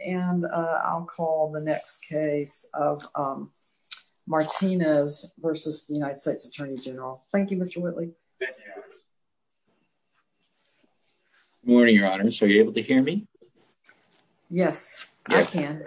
Thank you, Mr. Whitley. Morning, Your Honors. Are you able to hear me? Yes. Yes, I can.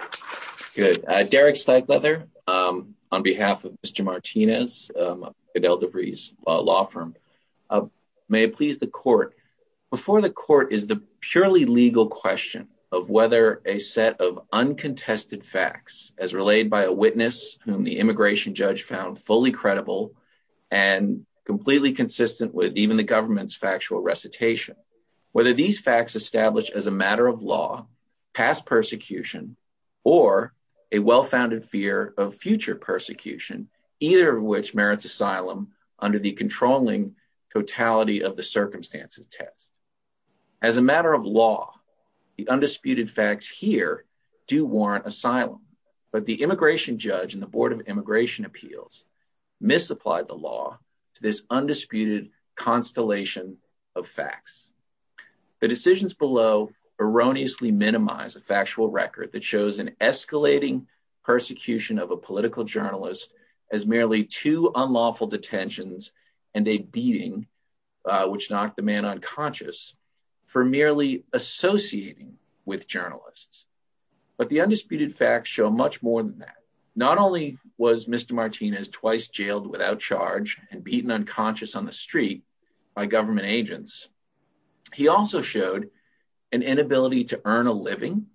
or a well-founded fear of future persecution, either of which merits asylum under the controlling totality of the circumstances test. As a matter of law, the undisputed facts here do warrant asylum, but the immigration judge and the Board of Immigration Appeals misapplied the law to this undisputed constellation of facts. The decisions below erroneously minimize a factual record that shows an escalating persecution of a political journalist as merely two unlawful detentions and a beating, which knocked the man unconscious, for merely associating with journalists. But the undisputed facts show much more than that. Not only was Mr. Martinez twice jailed without charge and beaten unconscious on the street by government agents, he also showed an inability to earn a living,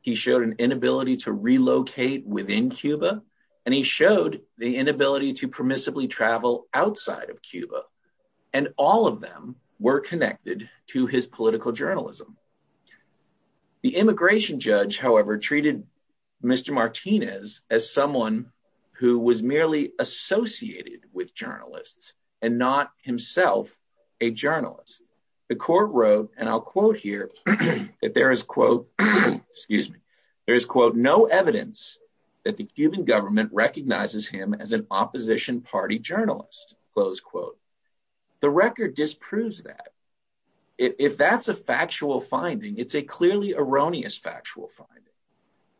he showed an inability to relocate within Cuba, and he showed the inability to permissibly travel outside of Cuba. And all of them were connected to his political journalism. The immigration judge, however, treated Mr. Martinez as someone who was merely associated with journalists and not himself a journalist. The court wrote, and I'll quote here, that there is, quote, excuse me, there is, quote, no evidence that the Cuban government recognizes him as an opposition party journalist, close quote. The record disproves that. If that's a factual finding, it's a clearly erroneous factual finding.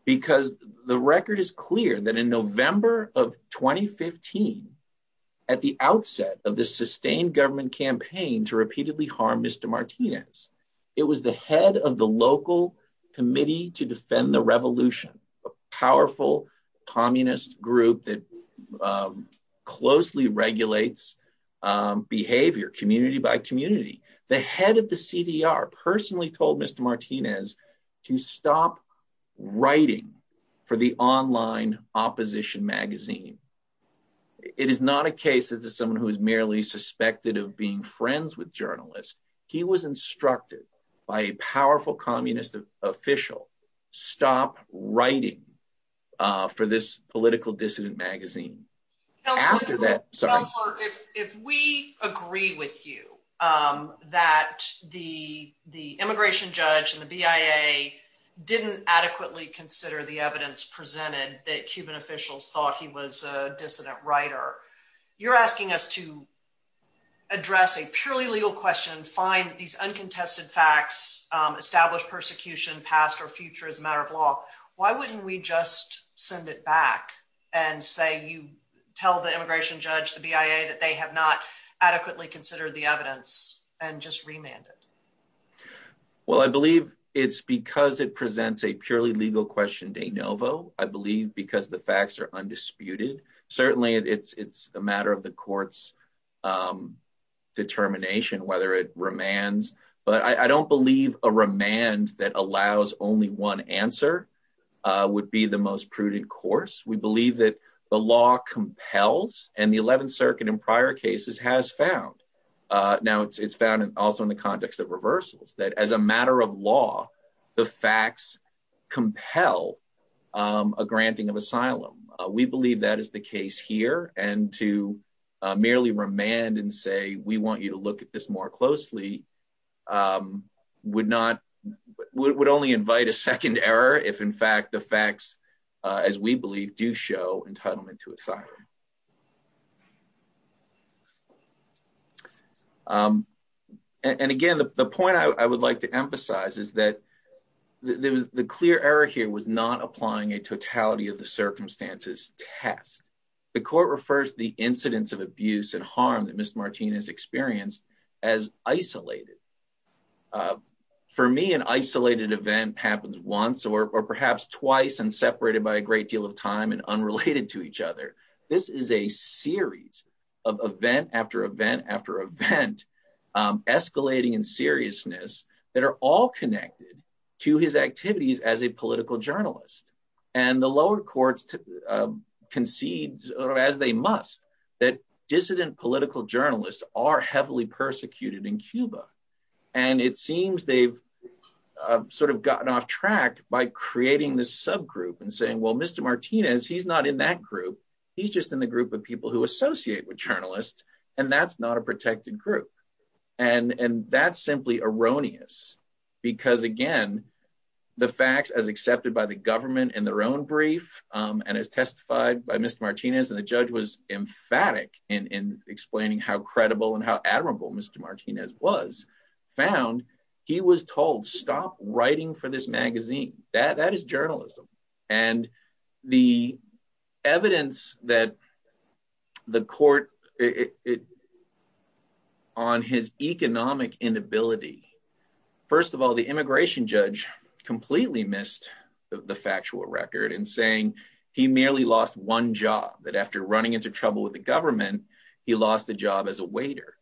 Because the record is clear that in November of 2015, at the outset of the sustained government campaign to repeatedly harm Mr. Martinez, it was the head of the local committee to defend the revolution, a powerful communist group that closely regulates behavior community by community. The head of the CDR personally told Mr. Martinez to stop writing for the online opposition magazine. It is not a case as to someone who is merely suspected of being friends with journalists. He was instructed by a powerful communist official, stop writing for this political dissident magazine. If we agree with you that the immigration judge and the BIA didn't adequately consider the evidence presented that Cuban officials thought he was a dissident writer, you're asking us to address a purely legal question, find these uncontested facts, establish persecution past or future as a matter of law. Why wouldn't we just send it back and say you tell the immigration judge, the BIA, that they have not adequately considered the evidence and just remanded? Well, I believe it's because it presents a purely legal question de novo. I believe because the facts are undisputed. Certainly, it's a matter of the court's determination whether it remands. But I don't believe a remand that allows only one answer would be the most prudent course. We believe that the law compels and the 11th Circuit in prior cases has found. Now, it's found also in the context of reversals that as a matter of law, the facts compel a granting of asylum. We believe that is the case here. And to merely remand and say we want you to look at this more closely would only invite a second error if, in fact, the facts, as we believe, do show entitlement to asylum. And again, the point I would like to emphasize is that the clear error here was not applying a totality of the circumstances test. The court refers to the incidents of abuse and harm that Mr. Martinez experienced as isolated. For me, an isolated event happens once or perhaps twice and separated by a great deal of time and unrelated to each other. This is a series of event after event after event escalating in seriousness that are all connected to his activities as a political journalist. And the lower courts concede, as they must, that dissident political journalists are heavily persecuted in Cuba. And it seems they've sort of gotten off track by creating this subgroup and saying, well, Mr. Martinez, he's not in that group. He's just in the group of people who associate with journalists. And that's not a protected group. And that's simply erroneous, because, again, the facts, as accepted by the government in their own brief and as testified by Mr. Martinez and the judge was emphatic in explaining how credible and how admirable Mr. Martinez was, found he was told stop writing for this magazine. That is journalism. And the evidence that the court on his economic inability. First of all, the immigration judge completely missed the factual record in saying he merely lost one job that after running into trouble with the government, he lost a job as a waiter.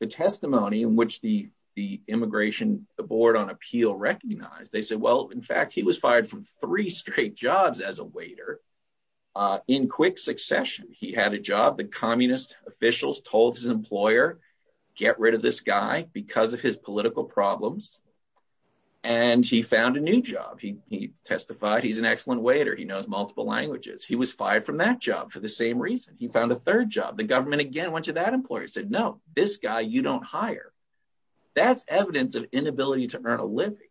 The testimony in which the the immigration board on appeal recognized, they said, well, in fact, he was fired from three straight jobs as a waiter in quick succession. He had a job. The communist officials told his employer, get rid of this guy because of his political problems. And he found a new job. He testified he's an excellent waiter. He knows multiple languages. He was fired from that job for the same reason. He found a third job. The government again went to that employer, said, no, this guy you don't hire. That's evidence of inability to earn a living.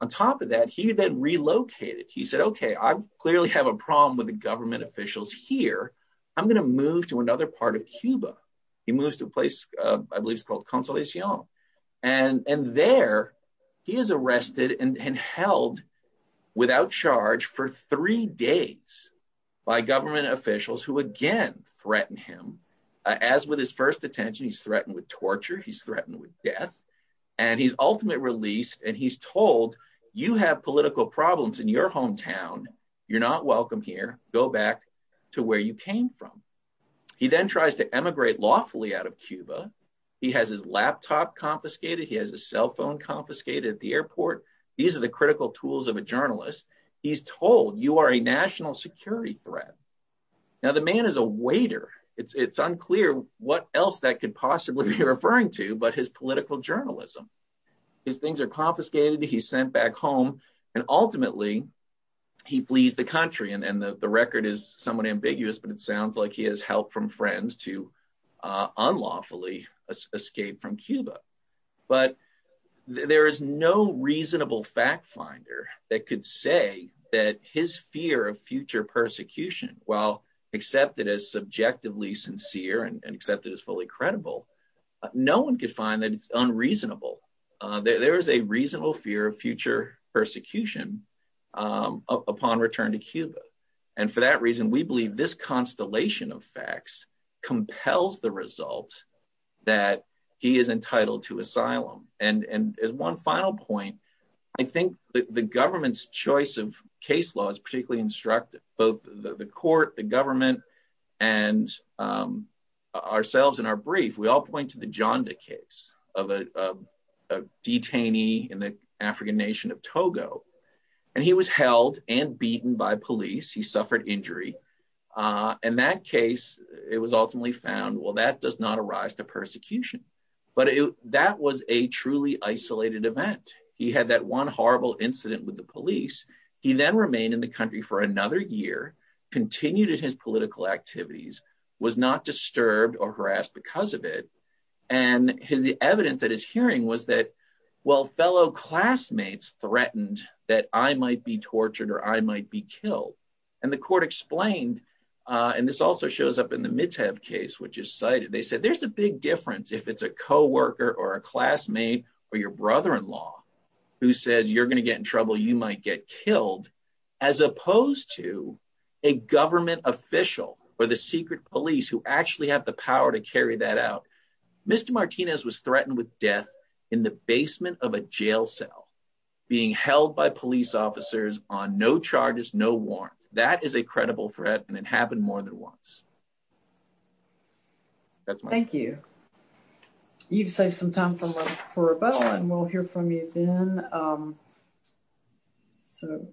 On top of that, he then relocated. He said, OK, I clearly have a problem with the government officials here. I'm going to move to another part of Cuba. He moves to a place I believe is called Consolation. And there he is arrested and held without charge for three days by government officials who again threaten him. As with his first detention, he's threatened with torture. He's threatened with death. And he's ultimately released and he's told you have political problems in your hometown. You're not welcome here. Go back to where you came from. He then tries to emigrate lawfully out of Cuba. He has his laptop confiscated. He has a cell phone confiscated at the airport. These are the critical tools of a journalist. He's told you are a national security threat. Now, the man is a waiter. It's unclear what else that could possibly be referring to. But his political journalism, his things are confiscated. He's sent back home. And ultimately, he flees the country. And the record is somewhat ambiguous. But it sounds like he has help from friends to unlawfully escape from Cuba. But there is no reasonable fact finder that could say that his fear of future persecution, while accepted as subjectively sincere and accepted as fully credible, no one could find that it's unreasonable. There is a reasonable fear of future persecution upon return to Cuba. And for that reason, we believe this constellation of facts compels the result that he is entitled to asylum. And as one final point, I think the government's choice of case law is particularly instructive. Both the court, the government and ourselves in our brief, we all point to the Janda case of a detainee in the African nation of Togo. And he was held and beaten by police. He suffered injury. In that case, it was ultimately found, well, that does not arise to persecution. But that was a truly isolated event. He had that one horrible incident with the police. He then remained in the country for another year, continued in his political activities, was not disturbed or harassed because of it. And the evidence that his hearing was that, well, fellow classmates threatened that I might be tortured or I might be killed. And the court explained. And this also shows up in the Mitev case, which is cited. They said there's a big difference if it's a co-worker or a classmate or your brother in law who says you're going to get in trouble. You might get killed as opposed to a government official or the secret police who actually have the power to carry that out. Mr. Martinez was threatened with death in the basement of a jail cell being held by police officers on no charges, no warrant. That is a credible threat. And it happened more than once. Thank you. You've saved some time for a vote and we'll hear from you then. So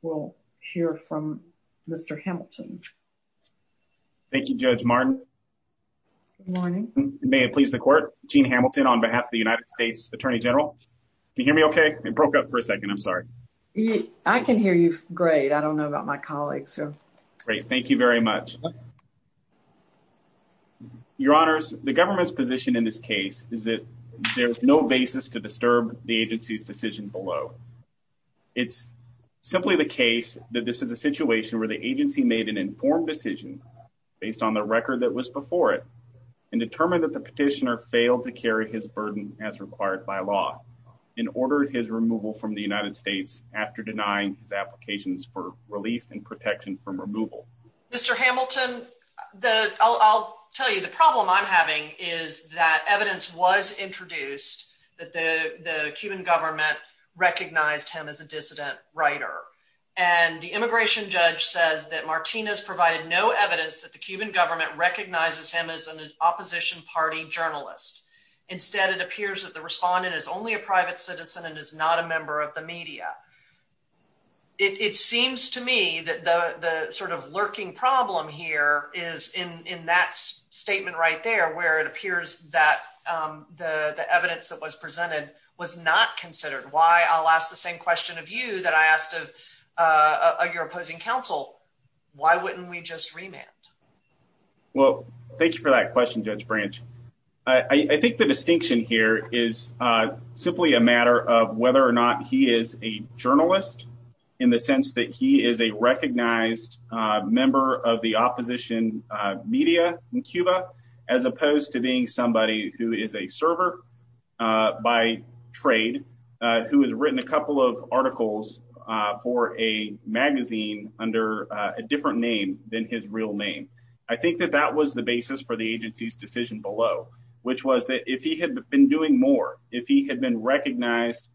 we'll hear from Mr. Hamilton. Thank you, Judge Martin. Morning. May it please the court. Gene Hamilton on behalf of the United States attorney general. You hear me OK. I broke up for a second. I'm sorry. I can hear you. Great. I don't know about my colleagues. Great. Thank you very much. Your honors, the government's position in this case is that there is no basis to disturb the agency's decision below. It's simply the case that this is a situation where the agency made an informed decision based on the record that was before it and determined that the petitioner failed to carry his burden as required by law. In order, his removal from the United States after denying his applications for relief and protection from removal. Mr. Hamilton, the I'll tell you, the problem I'm having is that evidence was introduced that the Cuban government recognized him as a dissident writer. And the immigration judge says that Martinez provided no evidence that the Cuban government recognizes him as an opposition party journalist. Instead, it appears that the respondent is only a private citizen and is not a member of the media. It seems to me that the sort of lurking problem here is in that statement right there, where it appears that the evidence that was presented was not considered. Why? I'll ask the same question of you that I asked of your opposing counsel. Why wouldn't we just remand? Well, thank you for that question, Judge Branch. I think the distinction here is simply a matter of whether or not he is a journalist in the sense that he is a recognized member of the opposition media in Cuba, as opposed to being somebody who is a server by trade, who has written a couple of articles for a magazine under a different name than his real name. I think that that was the basis for the agency's decision below, which was that if he had been doing more, if he had been recognized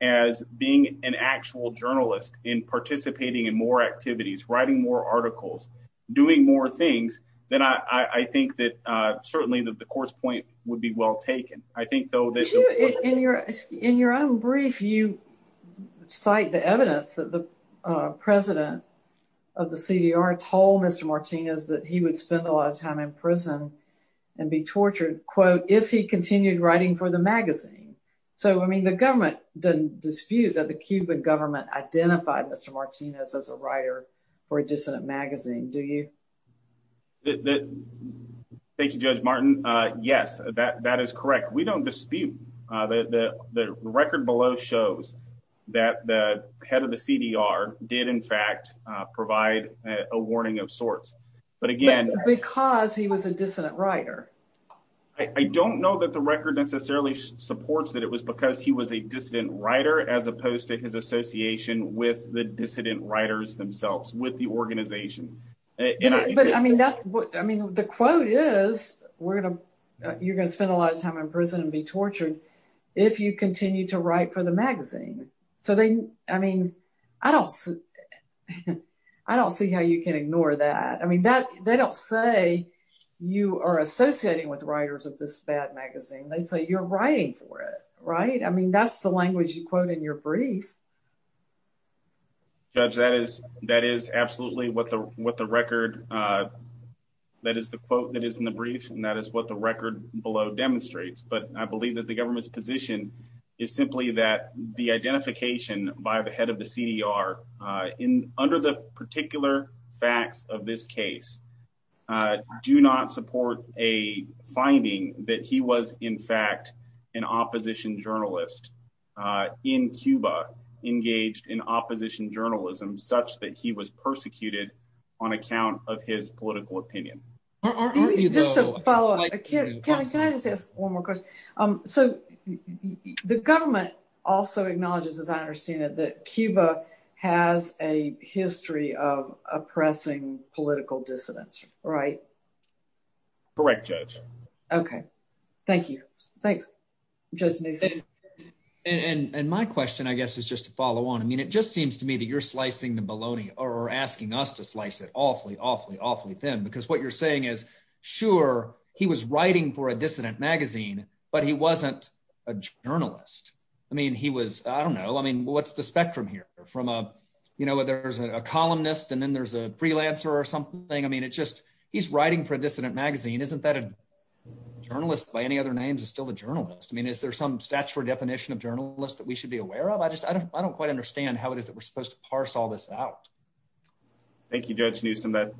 as being an actual journalist in participating in more activities, writing more articles, doing more things, then I think that certainly that the course point would be well taken. I think, though, in your in your own brief, you cite the evidence that the president of the CDR told Mr. Martinez that he would spend a lot of time in prison and be tortured, quote, if he continued writing for the magazine. So, I mean, the government doesn't dispute that the Cuban government identified Mr. Martinez as a writer for a dissident magazine, do you? Thank you, Judge Martin. Yes, that that is correct. We don't dispute that. The record below shows that the head of the CDR did, in fact, provide a warning of sorts. But again, because he was a dissident writer, I don't know that the record necessarily supports that it was because he was a dissident writer, as opposed to his association with the dissident writers themselves, with the organization. But I mean, that's what I mean. The quote is we're going to you're going to spend a lot of time in prison and be tortured if you continue to write for the magazine. So they I mean, I don't I don't see how you can ignore that. I mean, that they don't say you are associating with writers of this bad magazine. They say you're writing for it. Right. I mean, that's the language you quote in your brief. Judge, that is that is absolutely what the what the record that is the quote that is in the brief and that is what the record below demonstrates. But I believe that the government's position is simply that the identification by the head of the CDR in under the particular facts of this case do not support a finding that he was, in fact, an opposition journalist in Cuba engaged in opposition journalism such that he was persecuted on account of his political opinion. Are you just a follow up? Can I just ask one more question? So the government also acknowledges, as I understand it, that Cuba has a history of oppressing political dissidents. Right. Correct, Judge. OK, thank you. Thanks, Judge. And my question, I guess, is just to follow on. I mean, it just seems to me that you're slicing the bologna or asking us to slice it awfully, awfully, awfully thin, because what you're saying is, sure, he was writing for a dissident magazine, but he wasn't a journalist. I mean, he was I don't know. I mean, what's the spectrum here from a you know, there's a columnist and then there's a freelancer or something. I mean, it's just he's writing for a dissident magazine. Isn't that a journalist by any other names is still a journalist? I mean, is there some statutory definition of journalists that we should be aware of? I just I don't I don't quite understand how it is that we're supposed to parse all this out. Thank you, Judge Newsom, that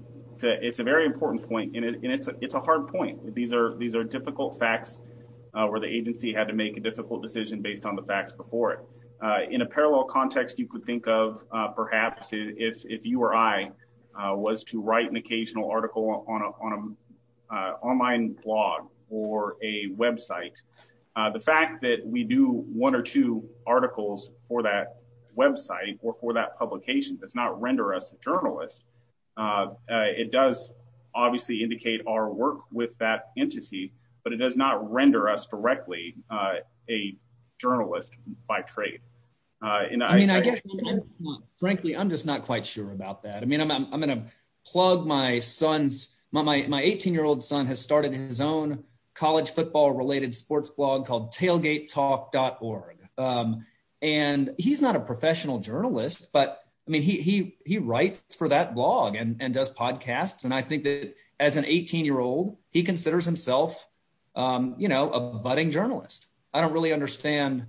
it's a very important point. And it's a it's a hard point. These are these are difficult facts where the agency had to make a difficult decision based on the facts before it. In a parallel context, you could think of perhaps if you or I was to write an occasional article on an online blog or a Web site, the fact that we do one or two articles for that Web site or for that publication does not render us a journalist. It does obviously indicate our work with that entity, but it does not render us directly a journalist by trade. And I mean, I guess, frankly, I'm just not quite sure about that. I mean, I'm going to plug my son's my 18 year old son has started his own college football related sports blog called Tailgate Talk dot org. And he's not a professional journalist, but I mean, he he writes for that blog and does podcasts. And I think that as an 18 year old, he considers himself a budding journalist. I don't really understand.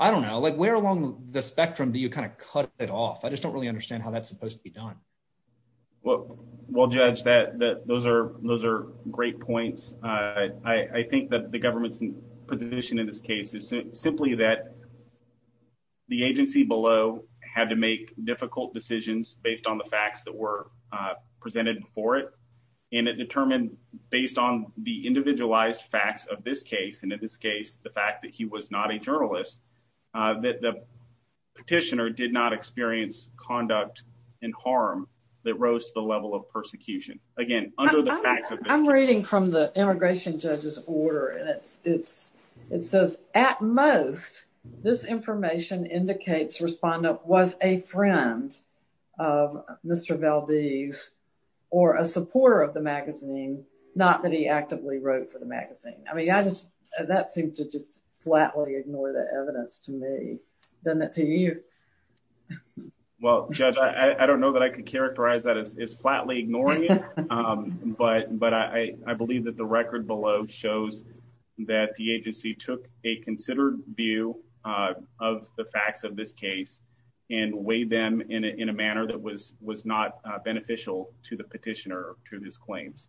I don't know, like where along the spectrum do you kind of cut it off? I just don't really understand how that's supposed to be done. Well, well, judge that those are those are great points. I think that the government's position in this case is simply that. The agency below had to make difficult decisions based on the facts that were presented for it, and it determined based on the individualized facts of this case and in this case, the fact that he was not a journalist, that the petitioner did not experience conduct and harm that rose to the level of persecution. Again, I'm reading from the immigration judge's order. And it's it's it says at most this information indicates respondent was a friend of Mr. Valdez or a supporter of the magazine, not that he actively wrote for the magazine. I mean, I just that seemed to just flatly ignore the evidence to me. Well, I don't know that I could characterize that as is flatly ignoring it. But but I believe that the record below shows that the agency took a considered view of the facts of this case and weighed them in a manner that was was not beneficial to the petitioner to his claims.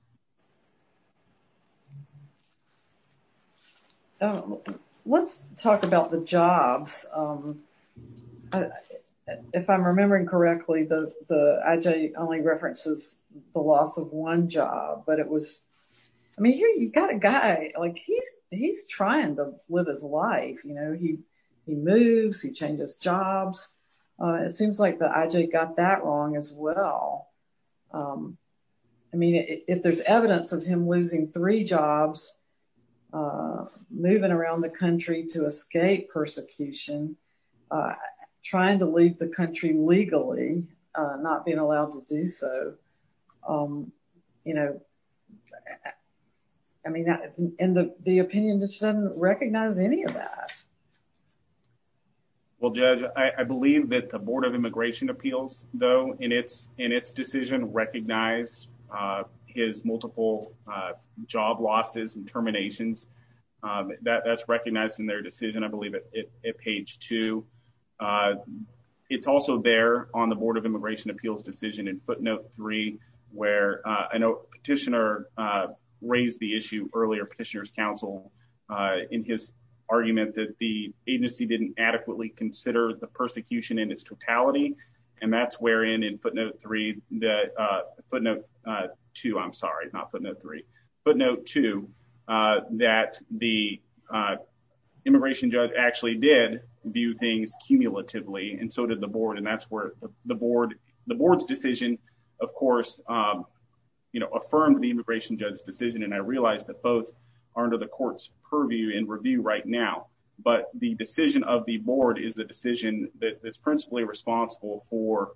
Let's talk about the jobs, if I'm remembering correctly, the IJ only references the loss of one job, but it was I mean, here you've got a guy like he's he's trying to live his life, you know, he he moves, he changes jobs. It seems like the IJ got that wrong as well. I mean, if there's evidence of him losing three jobs, moving around the country to escape persecution, trying to leave the country legally, not being allowed to do so, you know. I mean, the opinion just doesn't recognize any of that. Well, Judge, I believe that the Board of Immigration Appeals, though, in its in its decision recognized his multiple job losses and terminations that that's recognized in their decision, I believe, at page two. It's also there on the Board of Immigration Appeals decision in footnote three, where a petitioner raised the issue earlier petitioners counsel in his argument that the agency didn't adequately consider the persecution in its totality. And that's where in footnote three, footnote two, I'm sorry, not footnote three, footnote two, that the immigration judge actually did view things cumulatively. And so did the board. And that's where the board, the board's decision, of course, you know, affirmed the immigration judge's decision. And I realize that both are under the court's purview in review right now. But the decision of the board is the decision that is principally responsible for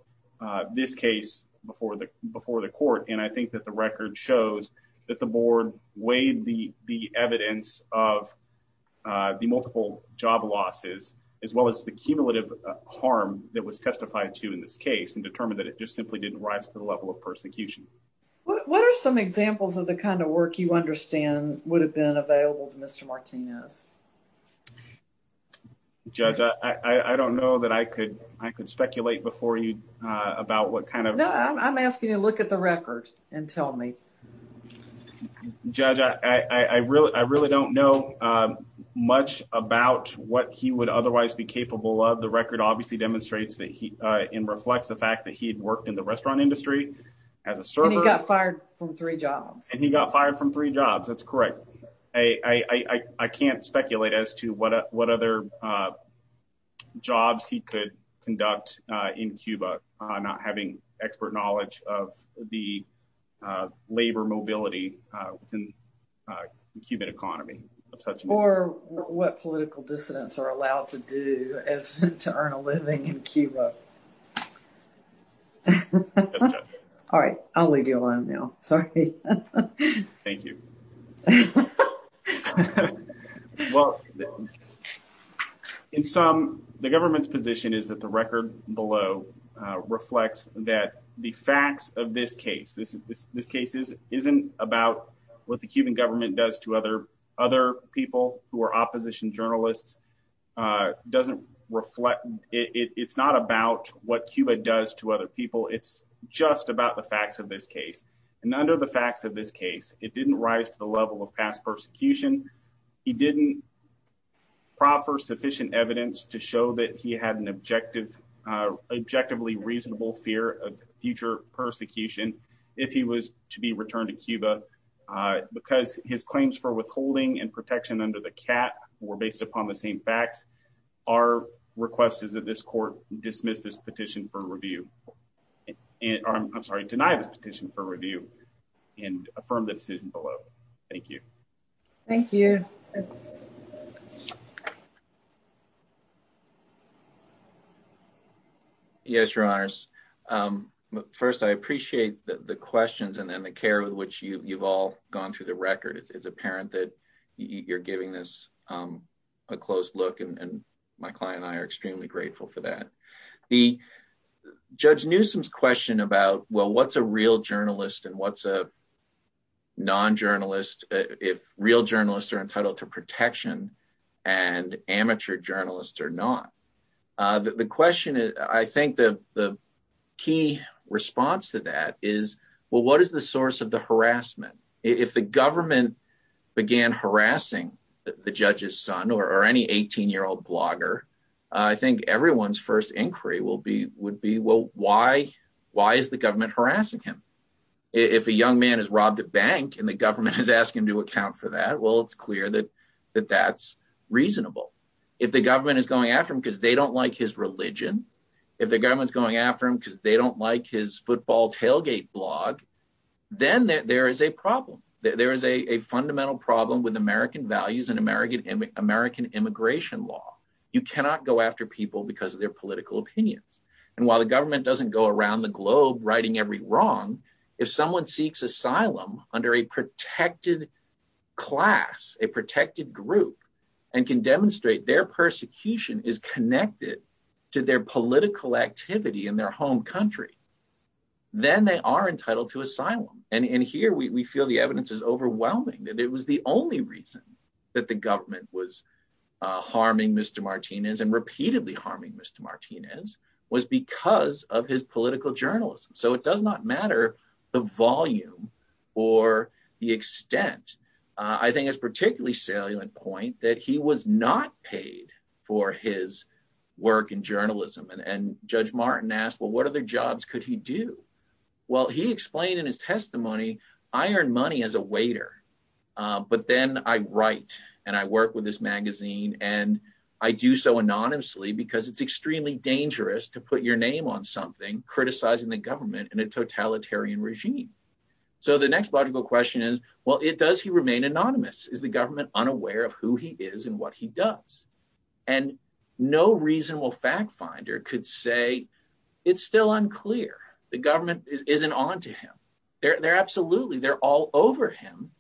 this case before the before the court. And I think that the record shows that the board weighed the the evidence of the multiple job losses, as well as the cumulative harm that was testified to in this case and determined that it just simply didn't rise to the level of persecution. What are some examples of the kind of work you understand would have been available to Mr. Martinez? Judge, I don't know that I could I could speculate before you about what kind of I'm asking you to look at the record and tell me. Judge, I really I really don't know much about what he would otherwise be capable of. The record obviously demonstrates that he reflects the fact that he had worked in the restaurant industry as a server. He got fired from three jobs and he got fired from three jobs. That's correct. I can't speculate as to what what other jobs he could conduct in Cuba. Not having expert knowledge of the labor mobility in the Cuban economy. Or what political dissidents are allowed to do as to earn a living in Cuba. All right. I'll leave you alone now. Sorry. Thank you. Well, in some the government's position is that the record below reflects that the facts of this case, this this case is isn't about what the Cuban government does to other other people who are opposition journalists. Doesn't reflect. It's not about what Cuba does to other people. It's just about the facts of this case. And under the facts of this case, it didn't rise to the level of past persecution. He didn't proffer sufficient evidence to show that he had an objective, objectively reasonable fear of future persecution. If he was to be returned to Cuba because his claims for withholding and protection under the cat were based upon the same facts. Our request is that this court dismiss this petition for review. I'm sorry. Deny the petition for review and affirm the decision below. Thank you. Thank you. Yes, your honors. First, I appreciate the questions and then the care with which you've all gone through the record. It's apparent that you're giving this a close look. And my client and I are extremely grateful for that. The judge Newsom's question about, well, what's a real journalist and what's a. Non journalist, if real journalists are entitled to protection and amateur journalists are not. The question is, I think the the key response to that is, well, what is the source of the harassment? If the government began harassing the judge's son or any 18 year old blogger, I think everyone's first inquiry will be would be, well, why? Why is the government harassing him? If a young man is robbed a bank and the government has asked him to account for that. Well, it's clear that that that's reasonable if the government is going after him because they don't like his religion. If the government's going after him because they don't like his football tailgate blog, then there is a problem. There is a fundamental problem with American values and American and American immigration law. You cannot go after people because of their political opinions. And while the government doesn't go around the globe writing every wrong, if someone seeks asylum under a protected class, a protected group and can demonstrate their persecution is connected to their political activity in their home country. Then they are entitled to asylum. And here we feel the evidence is overwhelming that it was the only reason that the government was harming Mr. Martinez and repeatedly harming Mr. Martinez was because of his political journalism. So it does not matter the volume or the extent. I think it's particularly salient point that he was not paid for his work in journalism. And Judge Martin asked, well, what other jobs could he do? Well, he explained in his testimony, I earn money as a waiter. But then I write and I work with this magazine and I do so anonymously because it's extremely dangerous to put your name on something, criticizing the government and a totalitarian regime. So the next logical question is, well, it does. He remained anonymous. Is the government unaware of who he is and what he does? And no reasonable fact finder could say it's still unclear. The government isn't on to him. They're absolutely they're all over him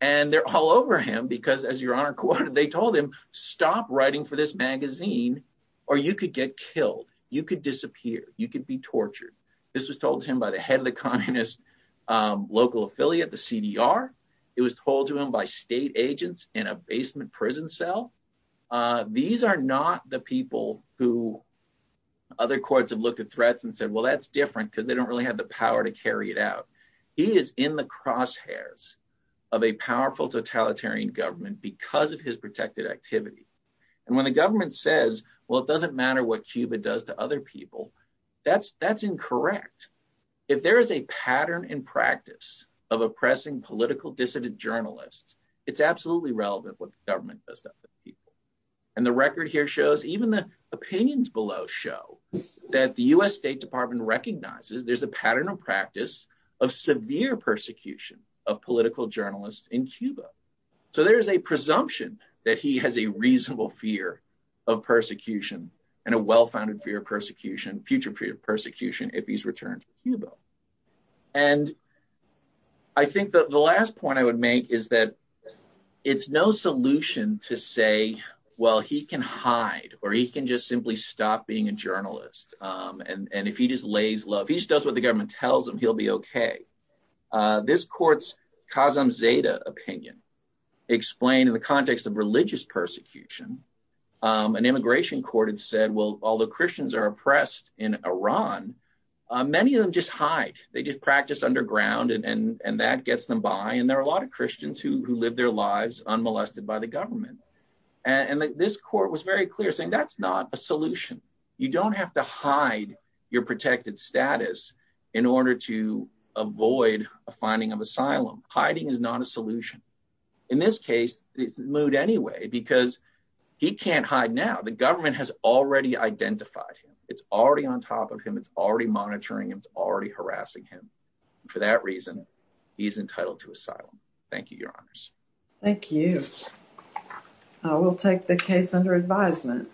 and they're all over him because, as your honor, they told him, stop writing for this magazine or you could get killed. You could disappear. You could be tortured. This was told to him by the head of the Communist local affiliate, the CDR. It was told to him by state agents in a basement prison cell. These are not the people who other courts have looked at threats and said, well, that's different because they don't really have the power to carry it out. He is in the crosshairs of a powerful totalitarian government because of his protected activity. And when the government says, well, it doesn't matter what Cuba does to other people, that's that's incorrect. If there is a pattern in practice of oppressing political dissident journalists, it's absolutely relevant what the government does to other people. And the record here shows even the opinions below show that the U.S. State Department recognizes there's a pattern of practice of severe persecution of political journalists in Cuba. So there is a presumption that he has a reasonable fear of persecution and a well-founded fear of persecution, future fear of persecution if he's returned to Cuba. And I think that the last point I would make is that it's no solution to say, well, he can hide or he can just simply stop being a journalist. And if he just lays low, if he just does what the government tells him, he'll be OK. This court's Kazemzadeh opinion explained in the context of religious persecution, an immigration court had said, well, all the Christians are oppressed in Iran. Many of them just hide. They just practice underground and that gets them by. And there are a lot of Christians who live their lives unmolested by the government. And this court was very clear saying that's not a solution. You don't have to hide your protected status in order to avoid a finding of asylum. Hiding is not a solution. In this case, it's Mood anyway, because he can't hide now. The government has already identified him. It's already on top of him. It's already monitoring him. It's already harassing him. For that reason, he's entitled to asylum. Thank you, Your Honors. Thank you. I will take the case under advisement.